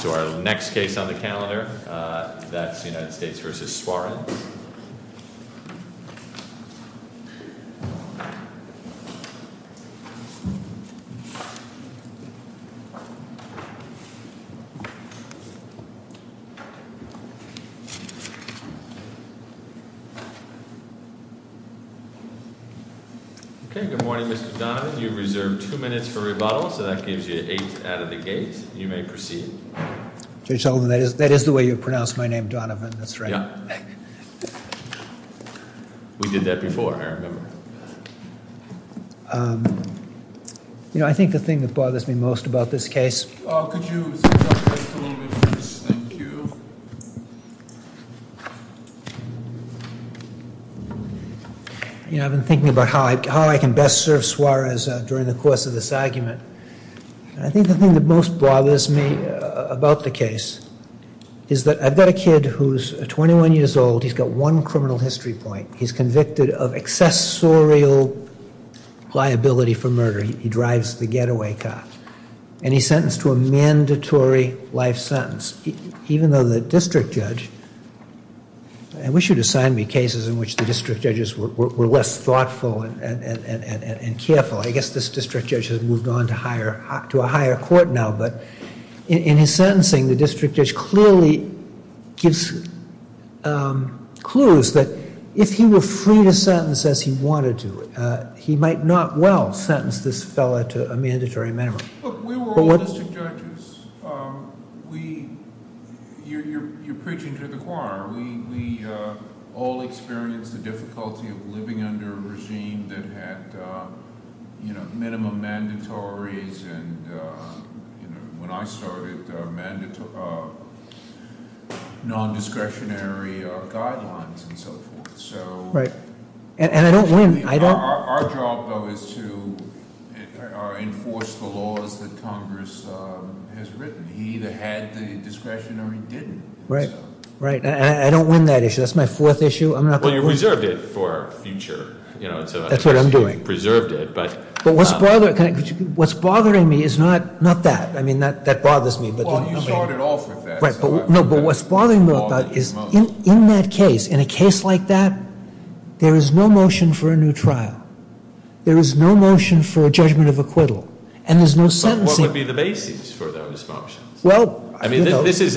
So our next case on the calendar, that's United States v. Soren. Okay, good morning Mr. Donovan. You've reserved two minutes for rebuttal, so that gives you eight out of the gate. You may proceed. Judge Sullivan, that is the way you pronounce my name, Donovan, that's right. We did that before, I remember. You know, I think the thing that bothers me most about this case... You know, I've been thinking about how I can best serve Suarez during the course of this argument. I think the thing that most bothers me about the case is that I've got a kid who's 21 years old, he's got one criminal history point. He's convicted of accessorial liability for murder. He drives the getaway car. And he's sentenced to a mandatory life sentence. Even though the district judge... I wish you'd assign me cases in which the district judges were less thoughtful and careful. I guess this district judge has moved on to a higher court now, but in his sentencing, the district judge clearly gives clues that if he were free to sentence as he wanted to, he might not well sentence this fellow to a mandatory memory. We were all district judges. You're preaching to the choir. We all experienced the difficulty of living under a regime that had minimum mandatories. When I started, non-discretionary guidelines and so forth. Our job, though, is to enforce the laws that Congress has written. He either had the discretion or he didn't. I don't win that issue. That's my fourth issue. You reserved it for future. What's bothering me is not that. That bothers me. In a case like that, there is no motion for a new trial. There is no motion for a judgment of acquittal. What would be the basis for those motions? It's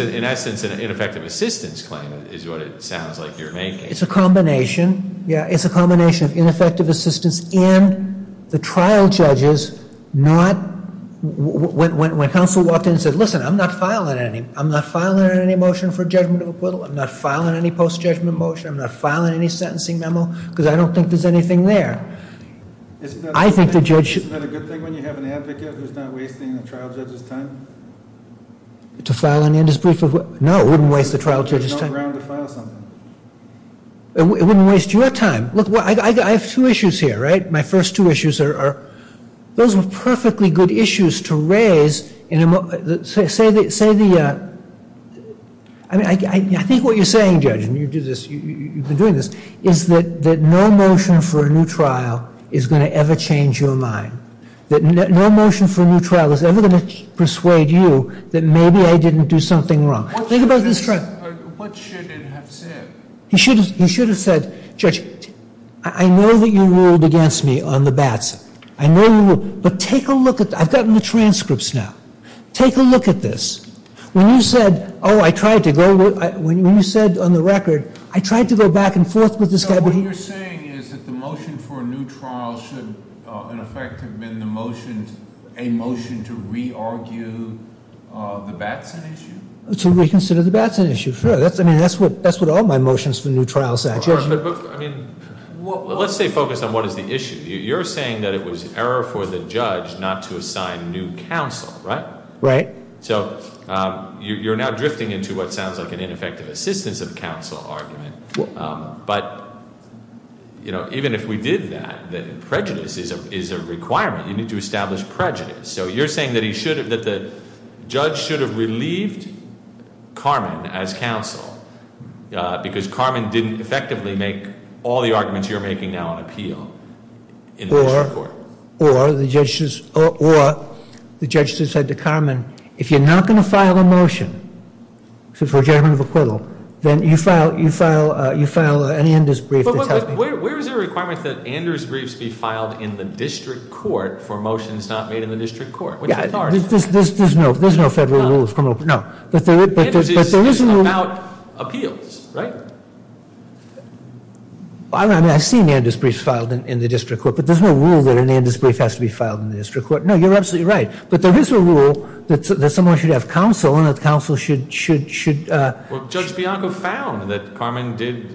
a combination of ineffective assistance and the trial judges not when counsel walked in and said, listen, I'm not filing any motion for judgment of acquittal. I'm not filing any post-judgment motion. I'm not filing any sentencing memo because I don't think there's anything there. I think the judge should. To file an indisbrief? No, it wouldn't waste the trial judge's time. It wouldn't waste your time. I have two issues here. Those are perfectly good issues to raise. I think what you're saying, judge, is that no motion for a new trial is going to ever change your mind. No motion for a new trial is ever going to change your mind. He should have said, judge, I know that you ruled against me on the Batson. I've gotten the transcripts now. Take a look at this. When you said on the record, I tried to go back and forth with this guy. What you're saying is that the motion for a new trial should in effect have been a motion to re-argue the Batson issue? To reconsider the Batson issue, sure. That's what all my motions for a new trial said. Let's stay focused on what is the issue. You're saying that it was error for the judge not to assign new counsel, right? Right. You're now drifting into what sounds like an ineffective assistance of counsel argument. Even if we did that, prejudice is a requirement. You need to establish prejudice. You're saying that the judge should have relieved Carman as counsel because Carman didn't effectively make all the arguments you're making now on appeal? Or the judge just said to Carman, if you're not going to file a motion for judgment of acquittal, then you file an Anders brief. Where is there a requirement that Anders briefs be filed in the district court for motions not made in the district court? There's no federal rule. Anders is about appeals, right? I've seen Anders briefs filed in the district court, but there's no rule that an Anders brief has to be filed in the district court. There is a rule that someone should have counsel and that counsel should- Judge Bianco found that Carman did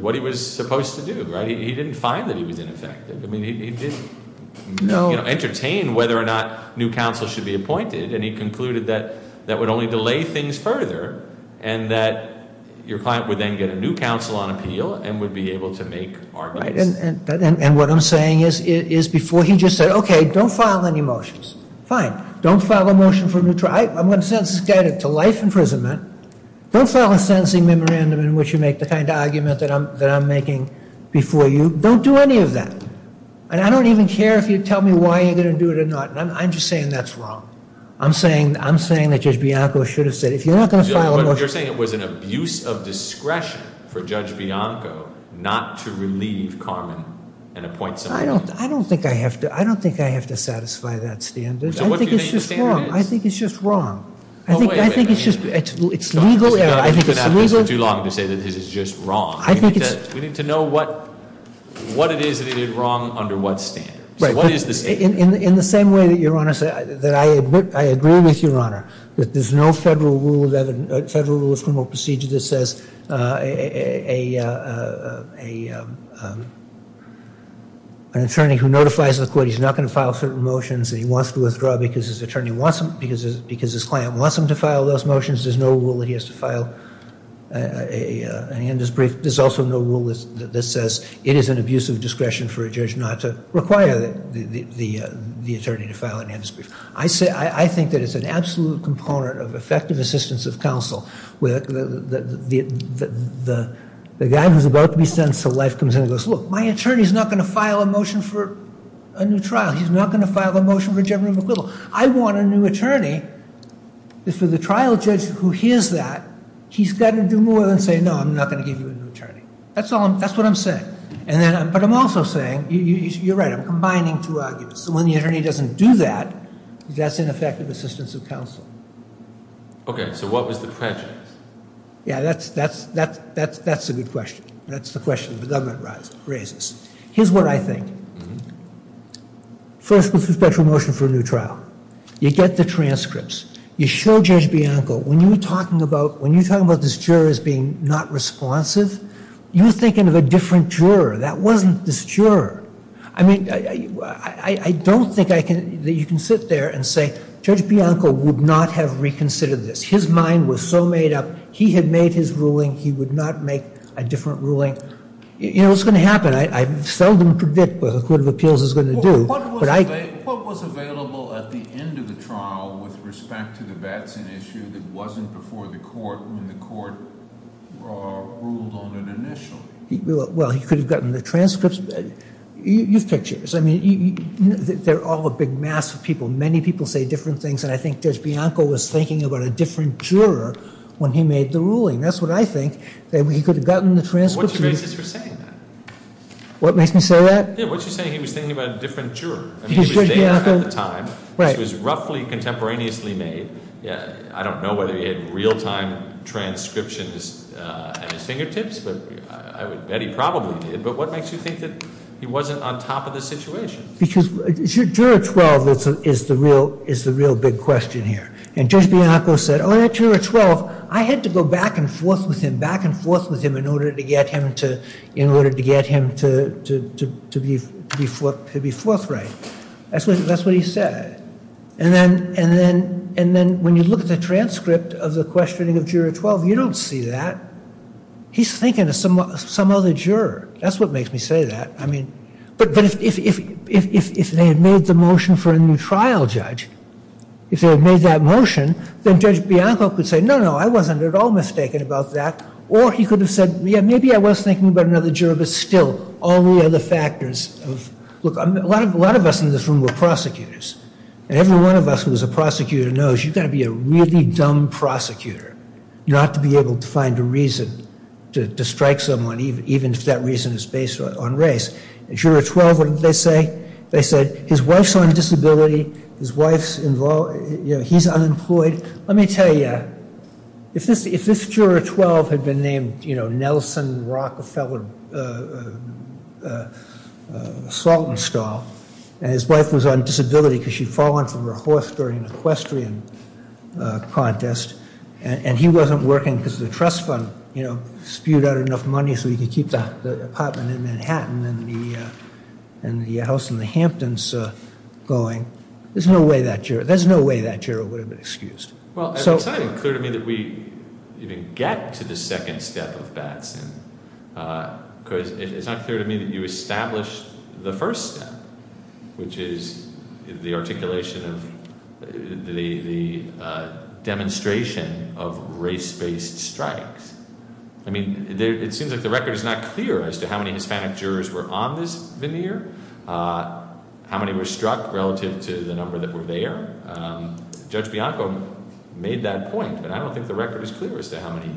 what he was supposed to do. He didn't find that he was ineffective. He didn't entertain whether or not new counsel should be appointed. And he concluded that that would only delay things further, and that your client would then get a new counsel on appeal and would be able to make arguments. And what I'm saying is before he just said, okay, don't file any motions. Fine. Don't file a motion for neutral. I'm going to sentence this guy to life imprisonment. Don't file a sentencing memorandum in which you make the kind of argument that I'm making before you. Don't do any of that. And I don't even care if you tell me why you're going to do it or not. I'm just saying that's wrong. I'm saying that Judge Bianco should have said if you're not going to file a motion- But you're saying it was an abuse of discretion for Judge Bianco not to relieve Carman and appoint someone else. I don't think I have to satisfy that standard. I think it's just wrong. I think it's just wrong. I think it's legal error. I don't think we could have this for too long to say that this is just wrong. We need to know what it is that he did wrong under what standards. In the same way that I agree with your Honor, that there's no federal rule of criminal procedure that says an attorney who notifies the court he's not going to file certain motions and he wants to withdraw because his attorney wants them, because his client wants him to file those motions, there's no rule that he has to file. In Anders' brief, there's also no rule that says it is an abuse of discretion for a judge not to require the attorney to file an Anders' brief. I think that it's an absolute component of effective assistance of counsel. The guy who's about to be sentenced to life comes in and goes, look, my attorney's not going to file a motion for a new trial. He's not going to file a motion for general acquittal. I want a new attorney. For the trial judge who hears that, he's got to do more than say, no, I'm not going to give you a new attorney. That's what I'm saying. But I'm also saying, you're right, I'm combining two arguments. So when the attorney doesn't do that, that's ineffective assistance of counsel. Okay, so what was the prejudice? Yeah, that's a good question. That's the question the government raises. Here's what I think. First, there's a special motion for a new trial. You get the transcripts. You show Judge Bianco, when you're talking about this juror as being not responsive, you're thinking of a different juror. That wasn't this juror. I don't think that you can sit there and say, Judge Bianco would not have reconsidered this. His mind was so made up. He had made his ruling. He would not make a different ruling. You know, it's going to happen. I seldom predict what the Court of Appeals is going to do. What was available at the end of the trial with respect to the Batson issue that wasn't before the court when the court ruled on it initially? Well, he could have gotten the transcripts. You've picked yours. They're all a big mass of people. Many people say different things. And I think Judge Bianco was thinking about a different juror when he made the ruling. That's what I think. He could have gotten the transcripts. What makes me say that? I don't know whether he had real-time transcriptions at his fingertips, but I would bet he probably did. But what makes you think that he wasn't on top of the situation? Because Juror 12 is the real big question here. And Judge Bianco said, oh, at Juror 12, I had to go back and forth with him, back and forth with him in order to get him to be forthright. That's what he said. And then when you look at the transcript of the questioning of Juror 12, you don't see that. He's thinking of some other juror. That's what makes me say that. But if they had made the motion for a new trial judge, if they had made that motion, then Judge Bianco could say, no, no, I wasn't at all mistaken about that. Or he could have said, yeah, maybe I was thinking about another juror, but still all the other factors. Look, a lot of us in this room were prosecutors. And every one of us who was a prosecutor knows you've got to be a really dumb prosecutor not to be able to find a reason to strike someone, even if that reason is based on race. And Juror 12, what did they say? They said his wife's on disability. His wife's involved. He's unemployed. Let me tell you, if this Juror 12 had been named Nelson Rockefeller Saltonstall, and his wife was on disability because she'd fallen from her horse during an equestrian contest, and he wasn't working because the trust fund spewed out enough money so he could keep the apartment in Manhattan and the house in the Hamptons going, there's no way that juror would have been excused. Well, it's not even clear to me that we even get to the second step of Batson because it's not clear to me that you established the first step, which is the articulation of the demonstration of race-based strikes. I mean, it seems like the record is not clear as to how many Hispanic jurors were on this veneer, how many were struck relative to the number that were there. Judge Bianco made that point, but I don't think the record is clear as to how many.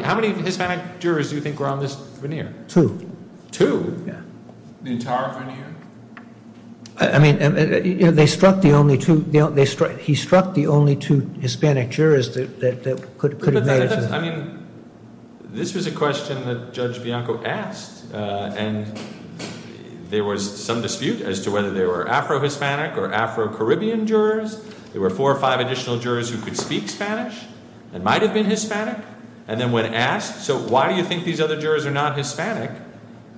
How many Hispanic jurors do you think were on this veneer? Two. Two? The entire veneer? I mean, they struck the only two, he struck the only two Hispanic jurors that could have made it. I mean, this was a question that there was some dispute as to whether they were Afro-Hispanic or Afro-Caribbean jurors. There were four or five additional jurors who could speak Spanish and might have been Hispanic. And then when asked, so why do you think these other jurors are not Hispanic,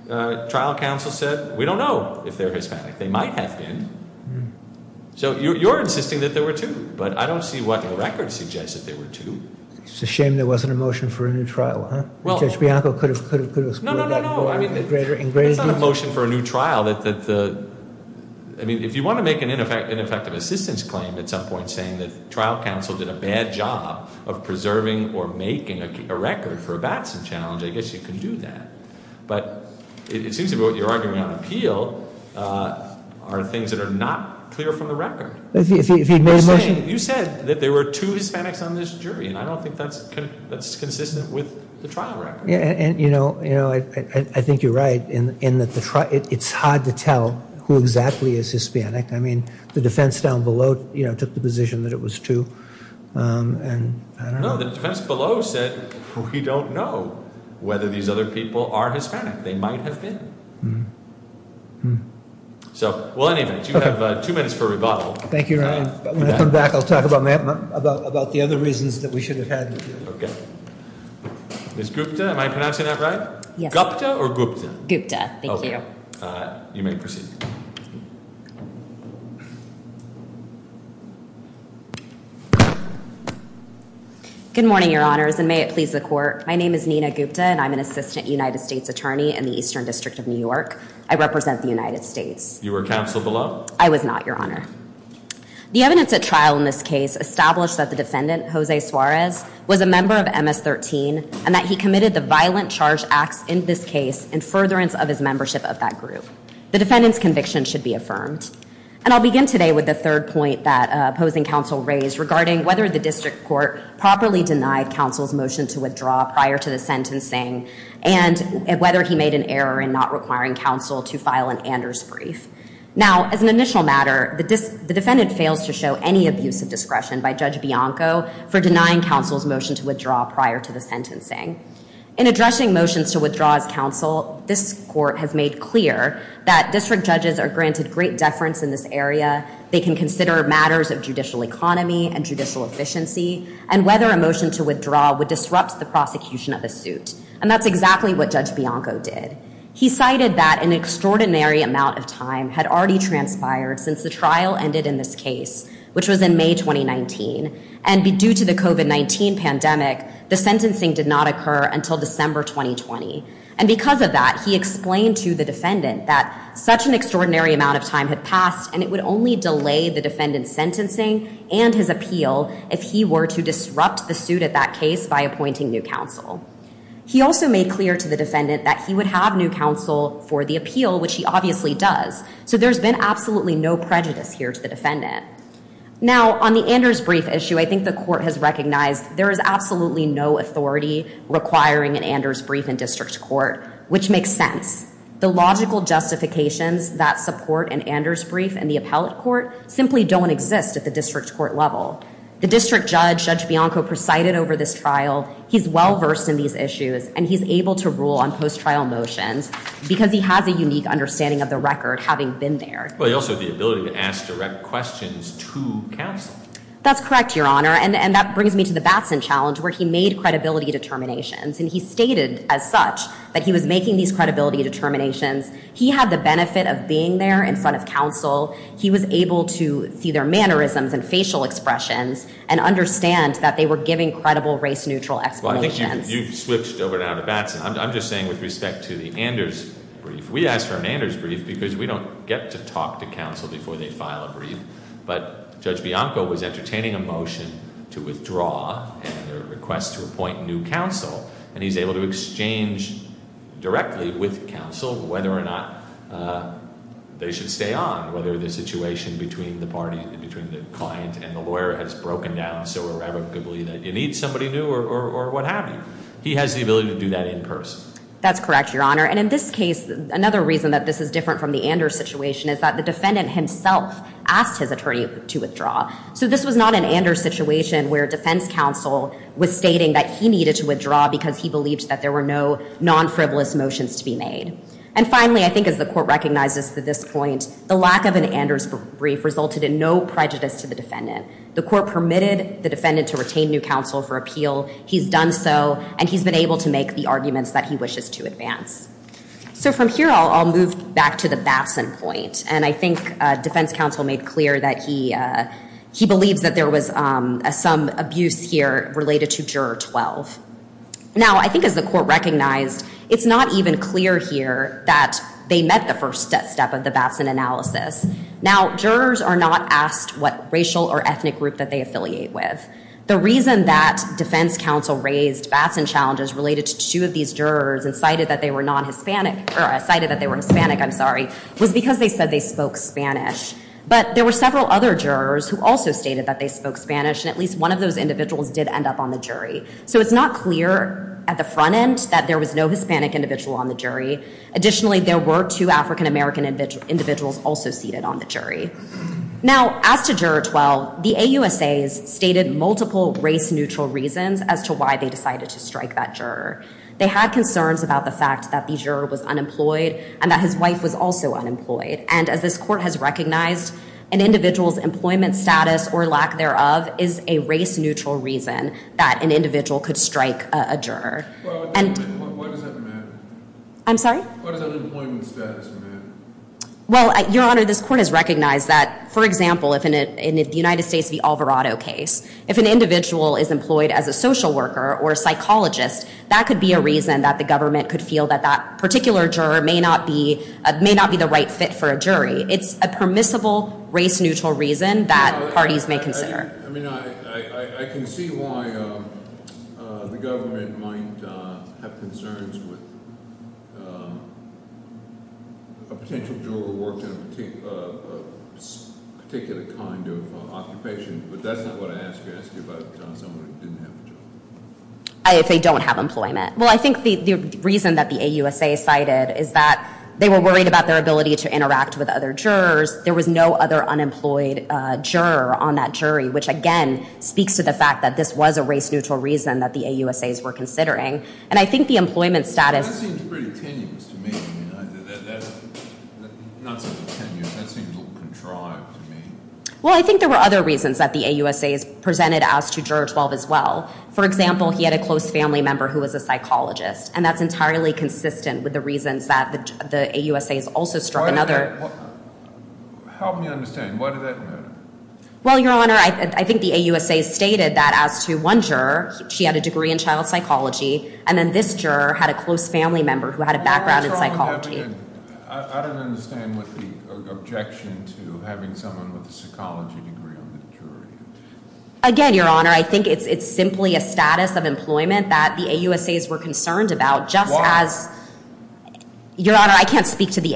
trial counsel said, we don't know if they're Hispanic. They might have been. So you're insisting that there were two, but I don't see what the record suggests that there were two. It's a shame there wasn't a motion for a new trial, huh? Judge Bianco could have explained that in greater detail. I mean, if you want to make an ineffective assistance claim at some point saying that trial counsel did a bad job of preserving or making a record for a Batson challenge, I guess you can do that. But it seems to me what you're arguing on appeal are things that are not clear from the record. You said that there were two Hispanics on this jury, and I don't think that's consistent with the trial record. I think you're right in that it's hard to tell who exactly is Hispanic. I mean, the defense down below took the position that it was two. No, the defense below said we don't know whether these other people are Hispanic. They might have been. So, well, anyway, you have two minutes for rebuttal. Thank you, Ryan. When I come back, I'll talk about the other reasons that we should have had. Ms. Gupta, am I pronouncing that right? Gupta or Gupta? Gupta. Thank you. You may proceed. Good morning, Your Honors. And may it please the court. My name is Nina Gupta, and I'm an assistant United States attorney in the Eastern District of New York. I represent the United States. You were counsel below. I was not, Your Honor. The evidence at trial in this case established that the defendant, Jose Suarez, was a member of MS-13 and that he committed the violent charge acts in this case in furtherance of his membership of that group. The defendant's conviction should be affirmed. And I'll begin today with the third point that opposing counsel raised regarding whether the district court properly denied counsel's motion to withdraw prior to the sentencing and whether he made an error in not requiring counsel to file an Anders brief. Now, as an initial matter, the defendant fails to show any abuse of discretion by Judge Bianco for denying counsel's motion to withdraw prior to the sentencing. In addressing motions to withdraw as counsel, this court has made clear that district judges are granted great deference in this area. They can consider matters of judicial economy and judicial efficiency and whether a motion to withdraw would disrupt the prosecution of a suit. And that's exactly what Judge Bianco did. He cited that an extraordinary amount of time had already transpired since the trial ended in this case, which was in May 2019. And due to the COVID-19 pandemic, the sentencing did not take place. Judge Bianco made clear to the defendant that such an extraordinary amount of time had passed and it would only delay the defendant's sentencing and his appeal if he were to disrupt the suit at that case by appointing new counsel. He also made clear to the defendant that he would have new counsel for the appeal, which he obviously does. So there's been absolutely no prejudice here to the defendant. Now, on the Anders brief issue, I think the court has made clear that the logical justifications that support an Anders brief in the appellate court simply don't exist at the district court level. The district judge, Judge Bianco, presided over this trial. He's well-versed in these issues and he's able to rule on post-trial motions because he has a unique understanding of the record, having been there. Well, he also has the ability to ask direct questions to counsel. That's correct, Your Honor. And that brings me to the Batson challenge, where he made these credibility determinations. He had the benefit of being there in front of counsel. He was able to see their mannerisms and facial expressions and understand that they were giving credible, race-neutral explanations. Well, I think you've switched over now to Batson. I'm just saying with respect to the Anders brief, we asked for an Anders brief because we don't get to talk to counsel before they file a brief. But Judge Bianco was entertaining a motion to withdraw and request to appoint new counsel. And he's able to exchange directly with counsel whether or not they should stay on, whether the situation between the client and the lawyer has broken down so irrevocably that you need somebody new or what have you. He has the ability to do that in person. That's correct, Your Honor. And in this case, another reason that this is different from the Anders situation is that the defendant himself asked his attorney to withdraw. So this was not an Anders situation where defense counsel was stating that he needed to withdraw because he believed that there were no non-frivolous motions to be made. And finally, I think as the Court recognizes at this point, the lack of an Anders brief resulted in no prejudice to the defendant. The Court permitted the defendant to retain new counsel for appeal. He's done so, and he's been able to make the arguments that he wishes to advance. So from here, I'll move back to the Batson point. And I think defense counsel made clear that he believes that there was some abuse here related to Juror 12. Now, I think as the Court recognized, it's not even clear here that they met the first step of the Batson analysis. Now, jurors are not asked what racial or ethnic group that they affiliate with. The reason that they cited that they were Hispanic was because they said they spoke Spanish. But there were several other jurors who also stated that they spoke Spanish, and at least one of those individuals did end up on the jury. So it's not clear at the front end that there was no Hispanic individual on the jury. Additionally, there were two African-American individuals also seated on the jury. Now, as to Juror 12, the AUSAs stated multiple race-neutral reasons as to why they decided to strike that juror. They had concerns about the fact that the juror was unemployed, and that his wife was also unemployed. And as this Court has recognized, an individual's employment status, or lack thereof, is a race-neutral reason that an individual could strike a juror. I'm sorry? Well, Your Honor, this Court has recognized that, for example, in the United States v. Alvarado case, if an individual is employed as a social worker or a psychologist, that could be a reason that the government could feel that that particular juror may not be the right fit for a jury. It's a permissible race-neutral reason that parties may consider. I mean, I can see why the government might have concerns with a potential juror who worked in a particular kind of occupation, but that's not what I asked you. I asked you about someone who didn't have a job. If they don't have employment. Well, I think the reason that the AUSA cited is that they were worried about their ability to interact with other jurors. There was no other unemployed juror on that jury, which, again, speaks to the fact that this was a race-neutral reason that the AUSAs were considering. And I think the employment status... That seems pretty tenuous to me. Well, I think there were other reasons that the AUSAs presented as to Juror 12 as well. For example, he had a close family member who was a psychologist, and that's entirely consistent with the reasons that the AUSAs also struck another... Help me understand. Why did that matter? Well, Your Honor, I think the AUSAs stated that as to one juror, she had a degree in child psychology, and then this juror had a close family member who had a background in psychology. I don't understand the objection to having someone with a psychology degree on the jury. Again, Your Honor, I think it's simply a status of employment that the AUSAs were concerned about, just as... There could be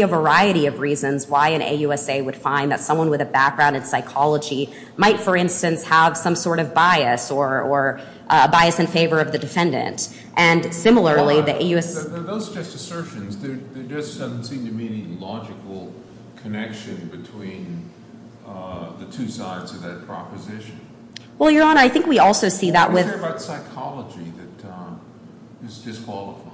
a variety of reasons why an AUSA would find that someone with a background in psychology might, for instance, have some sort of bias or bias in favor of the defendant. And similarly, the AUS... Those are just assertions. There just doesn't seem to be any logical connection between the two sides of that proposition. Well, Your Honor, I think we also see that with... I'm talking about psychology that is disqualified.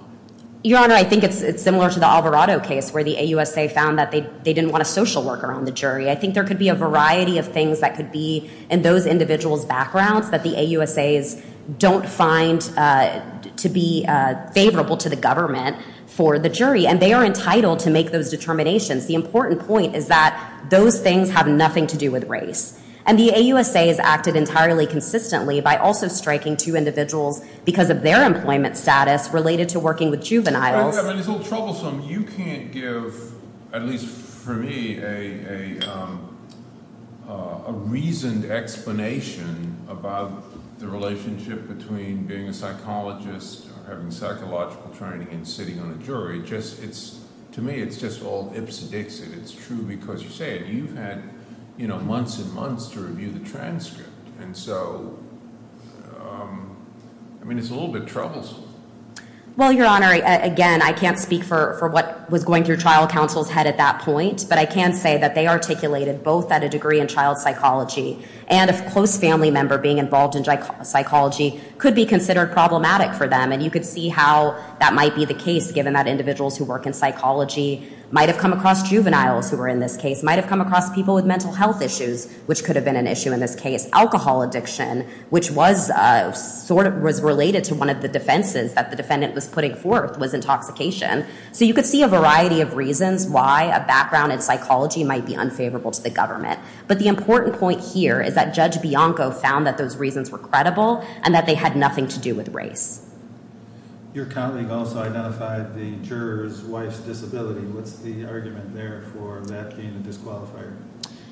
Your Honor, I think it's similar to the Alvarado case where the AUSA found that they didn't want a social worker on the jury. I think there could be a variety of things that could be in those individuals' backgrounds that the AUSAs don't find to be favorable to the government for the jury, and they are entitled to make those determinations. The important point is that those things have nothing to do with race. And the other thing that I would say is that the AUSA, the AUSA has a very clear employment status related to working with juveniles. I mean, it's a little troublesome. You can't give, at least for me, a reasoned explanation about the relationship between being a psychologist, having psychological training, and sitting on the jury. To me, it's just all ips and dicks, and it's true because you say it. You've had months and months to review the transcript. I mean, it's a little bit troublesome. Well, Your Honor, again, I can't speak for what was going through trial counsel's head at that point, but I can say that they articulated both that a degree in child psychology and a close family member being involved in child psychology, and they articulated that individuals who work in psychology might have come across juveniles who are in this case, might have come across people with mental health issues, which could have been an issue in this case. Alcohol addiction, which was related to one of the defenses that the defendant was putting forth, was intoxication. So you could see a variety of reasons why a background in psychology might be unfavorable to the government. But the important point here is that Judge Bianco found that those reasons were true. Your colleague also identified the juror's wife's disability. What's the argument there for that being a disqualifier?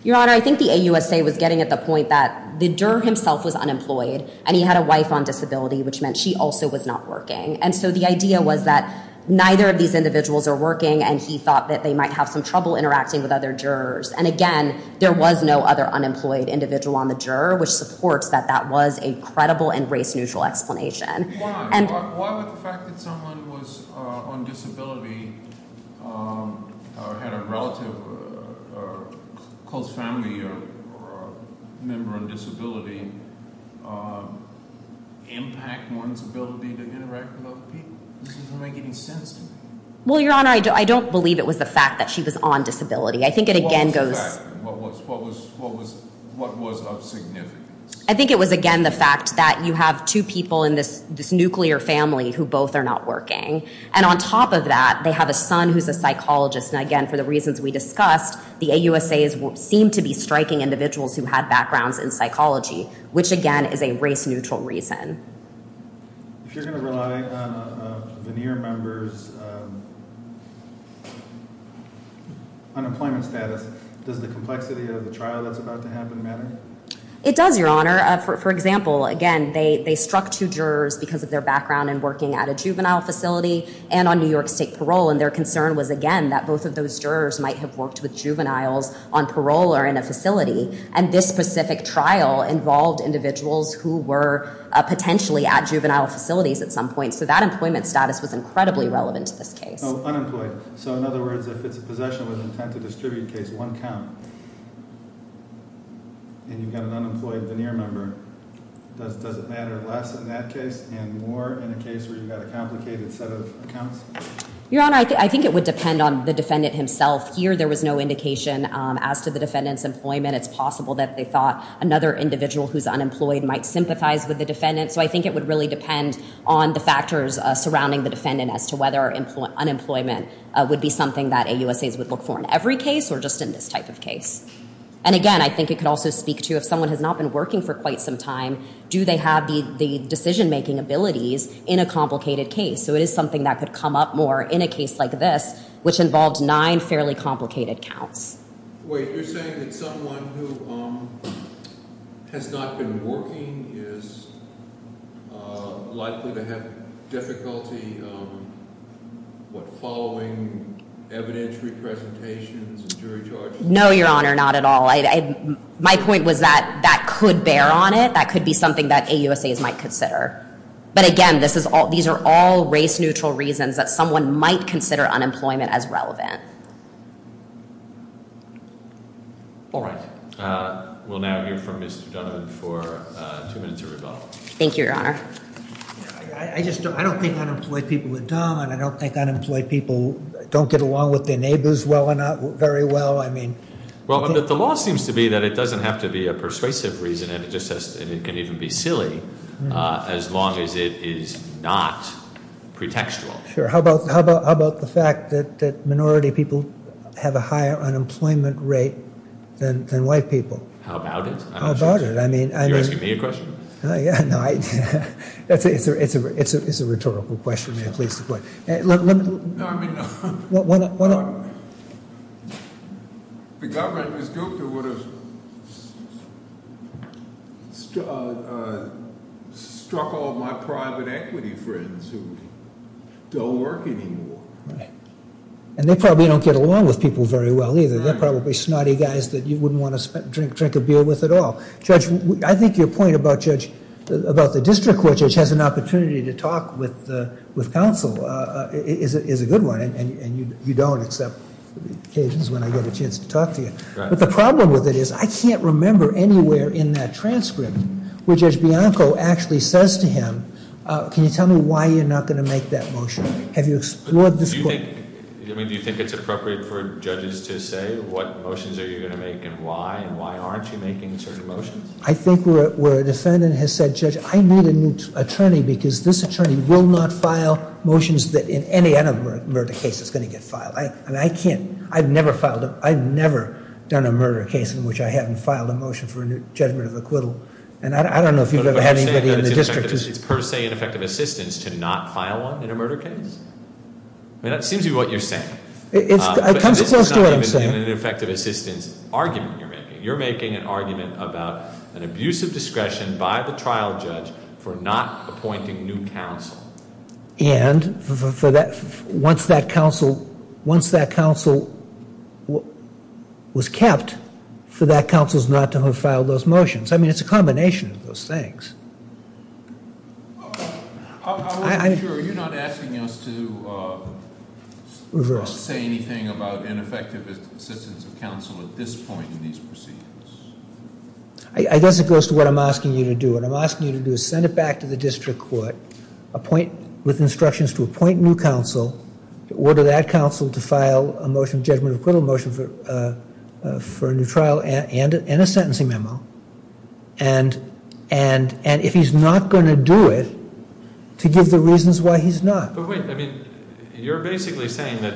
Your Honor, I think the AUSA was getting at the point that the juror himself was unemployed, and he had a wife on disability, which meant she also was not working. And so the idea was that neither of these individuals are working, and he thought that they might have some trouble interacting with other jurors. And again, there was no other unemployed individual on the juror, which supports that that was a credible and race-neutral explanation. Why would the fact that someone was on disability had a relative, a close family member on disability impact one's ability to interact with other people? This doesn't make any sense to me. Well, Your Honor, I don't believe it was the fact that she was on disability. I think it again goes... What was the fact? What was of significance? I think it was again the fact that you have two people in this nuclear family who both are not working. And on top of that, they have a son who's a psychologist. And again, for the reasons we discussed, the AUSAs seem to be striking individuals who had backgrounds in psychology, which again is a race-neutral reason. If you're going to rely on a veneer member's unemployment status, does the complexity of the trial that's about to happen matter? It does, Your Honor. For example, again, they struck two jurors because of their background in working at a juvenile facility and on New York State parole. And their concern was again that both of those jurors might have worked with juveniles on parole or in a facility. And this specific trial involved individuals who were potentially at juvenile facilities at some point. So that employment status was incredibly relevant to this case. Unemployed. So in other words, if it's a possession with intent to distribute case, one count, and you've got an unemployed veneer member, does it matter less in that case and more in a case where you've got a complicated set of accounts? Your Honor, I think it would depend on the defendant himself. Here there was no indication as to the defendant's employment. It's possible that they thought another individual who's unemployed might sympathize with the defendant. So I think it would really depend on the factors surrounding the defendant as to whether unemployment would be something that AUSAs would look for in every case or just in this type of case. And again, I think it could also speak to if someone has not been working for quite some time, do they have the decision-making abilities in a complicated case? So it is something that could come up more in a case like this, which involved nine fairly complicated counts. Wait, you're saying that someone who has not been working is likely to have difficulty following evidentiary presentations and jury charges? No, Your Honor, not at all. My point was that that could bear on it. That could be something that AUSAs might consider. But again, these are all race-neutral reasons that someone might consider unemployment as relevant. All right. We'll now hear from Mr. Donovan for two minutes or so. Thank you, Your Honor. I just don't think unemployed people are dumb, and I don't think unemployed people don't get along with their neighbors very well. Well, the law seems to be that it doesn't have to be a persuasive reason, and it can even be silly as long as it is not pretextual. Sure. How about the fact that minority people have a higher unemployment rate than white people? How about it? How about it? You're asking me a question? It's a rhetorical question, if you may please. The government, Ms. Gupta, would have struck all my private equity friends who don't work anymore. And they probably don't get along with people very well either. They're probably snotty guys that you wouldn't want to drink a beer with at all. Judge, I think your point about the district court judge has an opportunity to talk with counsel is a good one, and you don't, except when I get a chance to talk to you. But the problem with it is I can't remember anywhere in that transcript where Judge Bianco actually says to him, can you tell me why you're not going to make that motion? Have you explored this point? Do you think it's appropriate for judges to say what motions are you going to make and why, and why aren't you making certain motions? I think where a defendant has said, Judge, I need a new attorney because this attorney will not file motions that in any other murder case is going to get filed. I mean, I can't, I've never filed, I've never done a murder case in which I haven't filed a motion for a new judgment of acquittal. And I don't know if you've ever had anybody in the district. But are you saying that it's per se ineffective assistance to not file one in a murder case? I mean, that seems to be what you're saying. It comes close to what I'm saying. But this is not an ineffective assistance argument you're making. You're making an argument about an abuse of discretion by the trial judge for not appointing new counsel. And for that, once that counsel, once that counsel was kept, for that counsel not to have filed those motions. I mean, it's a combination of those things. I wasn't sure, are you not asking us to say anything about ineffective assistance of counsel at this point in these proceedings? I guess it goes to what I'm asking you to do. What I'm asking you to do is send it back to the district court, appoint, with instructions to appoint new counsel, order that counsel to file a motion of judgment of acquittal motion for a new trial and a sentencing memo. And if he's not going to do it, to give the reasons why he's not. But wait, I mean, you're basically saying that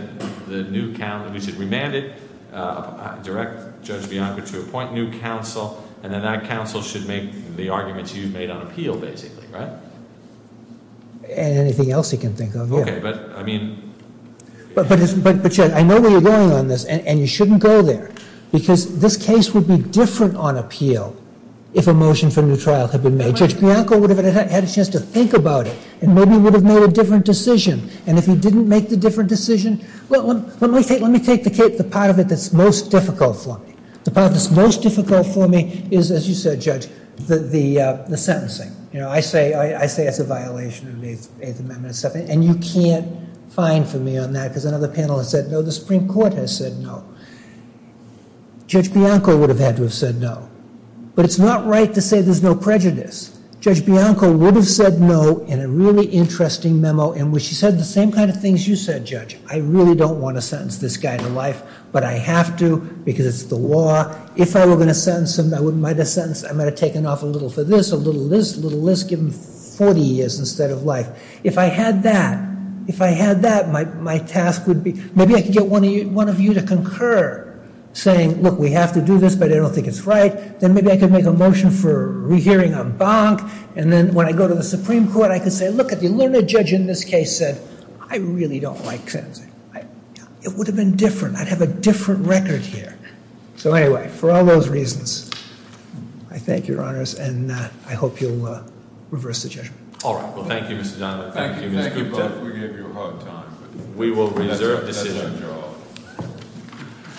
we should remand it, direct Judge Bianco to appoint new counsel, and then that counsel should make the arguments you've made on appeal, basically, right? Anything else he can think of, yeah. Okay, but I mean... But Judge, I know where you're going on this, and you shouldn't go there, because this case would be different on appeal if a motion for a new trial had been made. Judge Bianco would have had a chance to think about it, and maybe would have made a different decision. And if he didn't make the different decision, let me take the part of it that's most difficult for me. The part that's most difficult for me is, as you said, Judge, the sentencing. You know, I say that's a violation of the Eighth Amendment, and you can't fine for me on that, because another panel has said no. The Supreme Court has said no. Judge Bianco would have had to have said no. But it's not right to say there's no prejudice. Judge Bianco would have said no in a really interesting memo in which he said the same kind of things you said, Judge. I really don't want to sentence this guy to life, but I have to, because it's the law. If I were going to sentence him, I might have taken off a little for this, a little for this, a little for this, give him 40 years instead of life. If I had that, if I had that, my task would be, maybe I could get one of you to concur, saying, look, we have to do this, but I don't think it's right. Then maybe I could make a motion for rehearing a bonk, and then when I go to the Supreme Court, I could say, look, the learned judge in this case said, I really don't like sentencing. It would have been different. I'd have a different record here. So anyway, for all those reasons, I thank your honors, and I hope you'll reverse the judgment. All right. Well, thank you, Mr. Donovan. Thank you. Thank you both. We gave you a hard time. We will reserve decisions.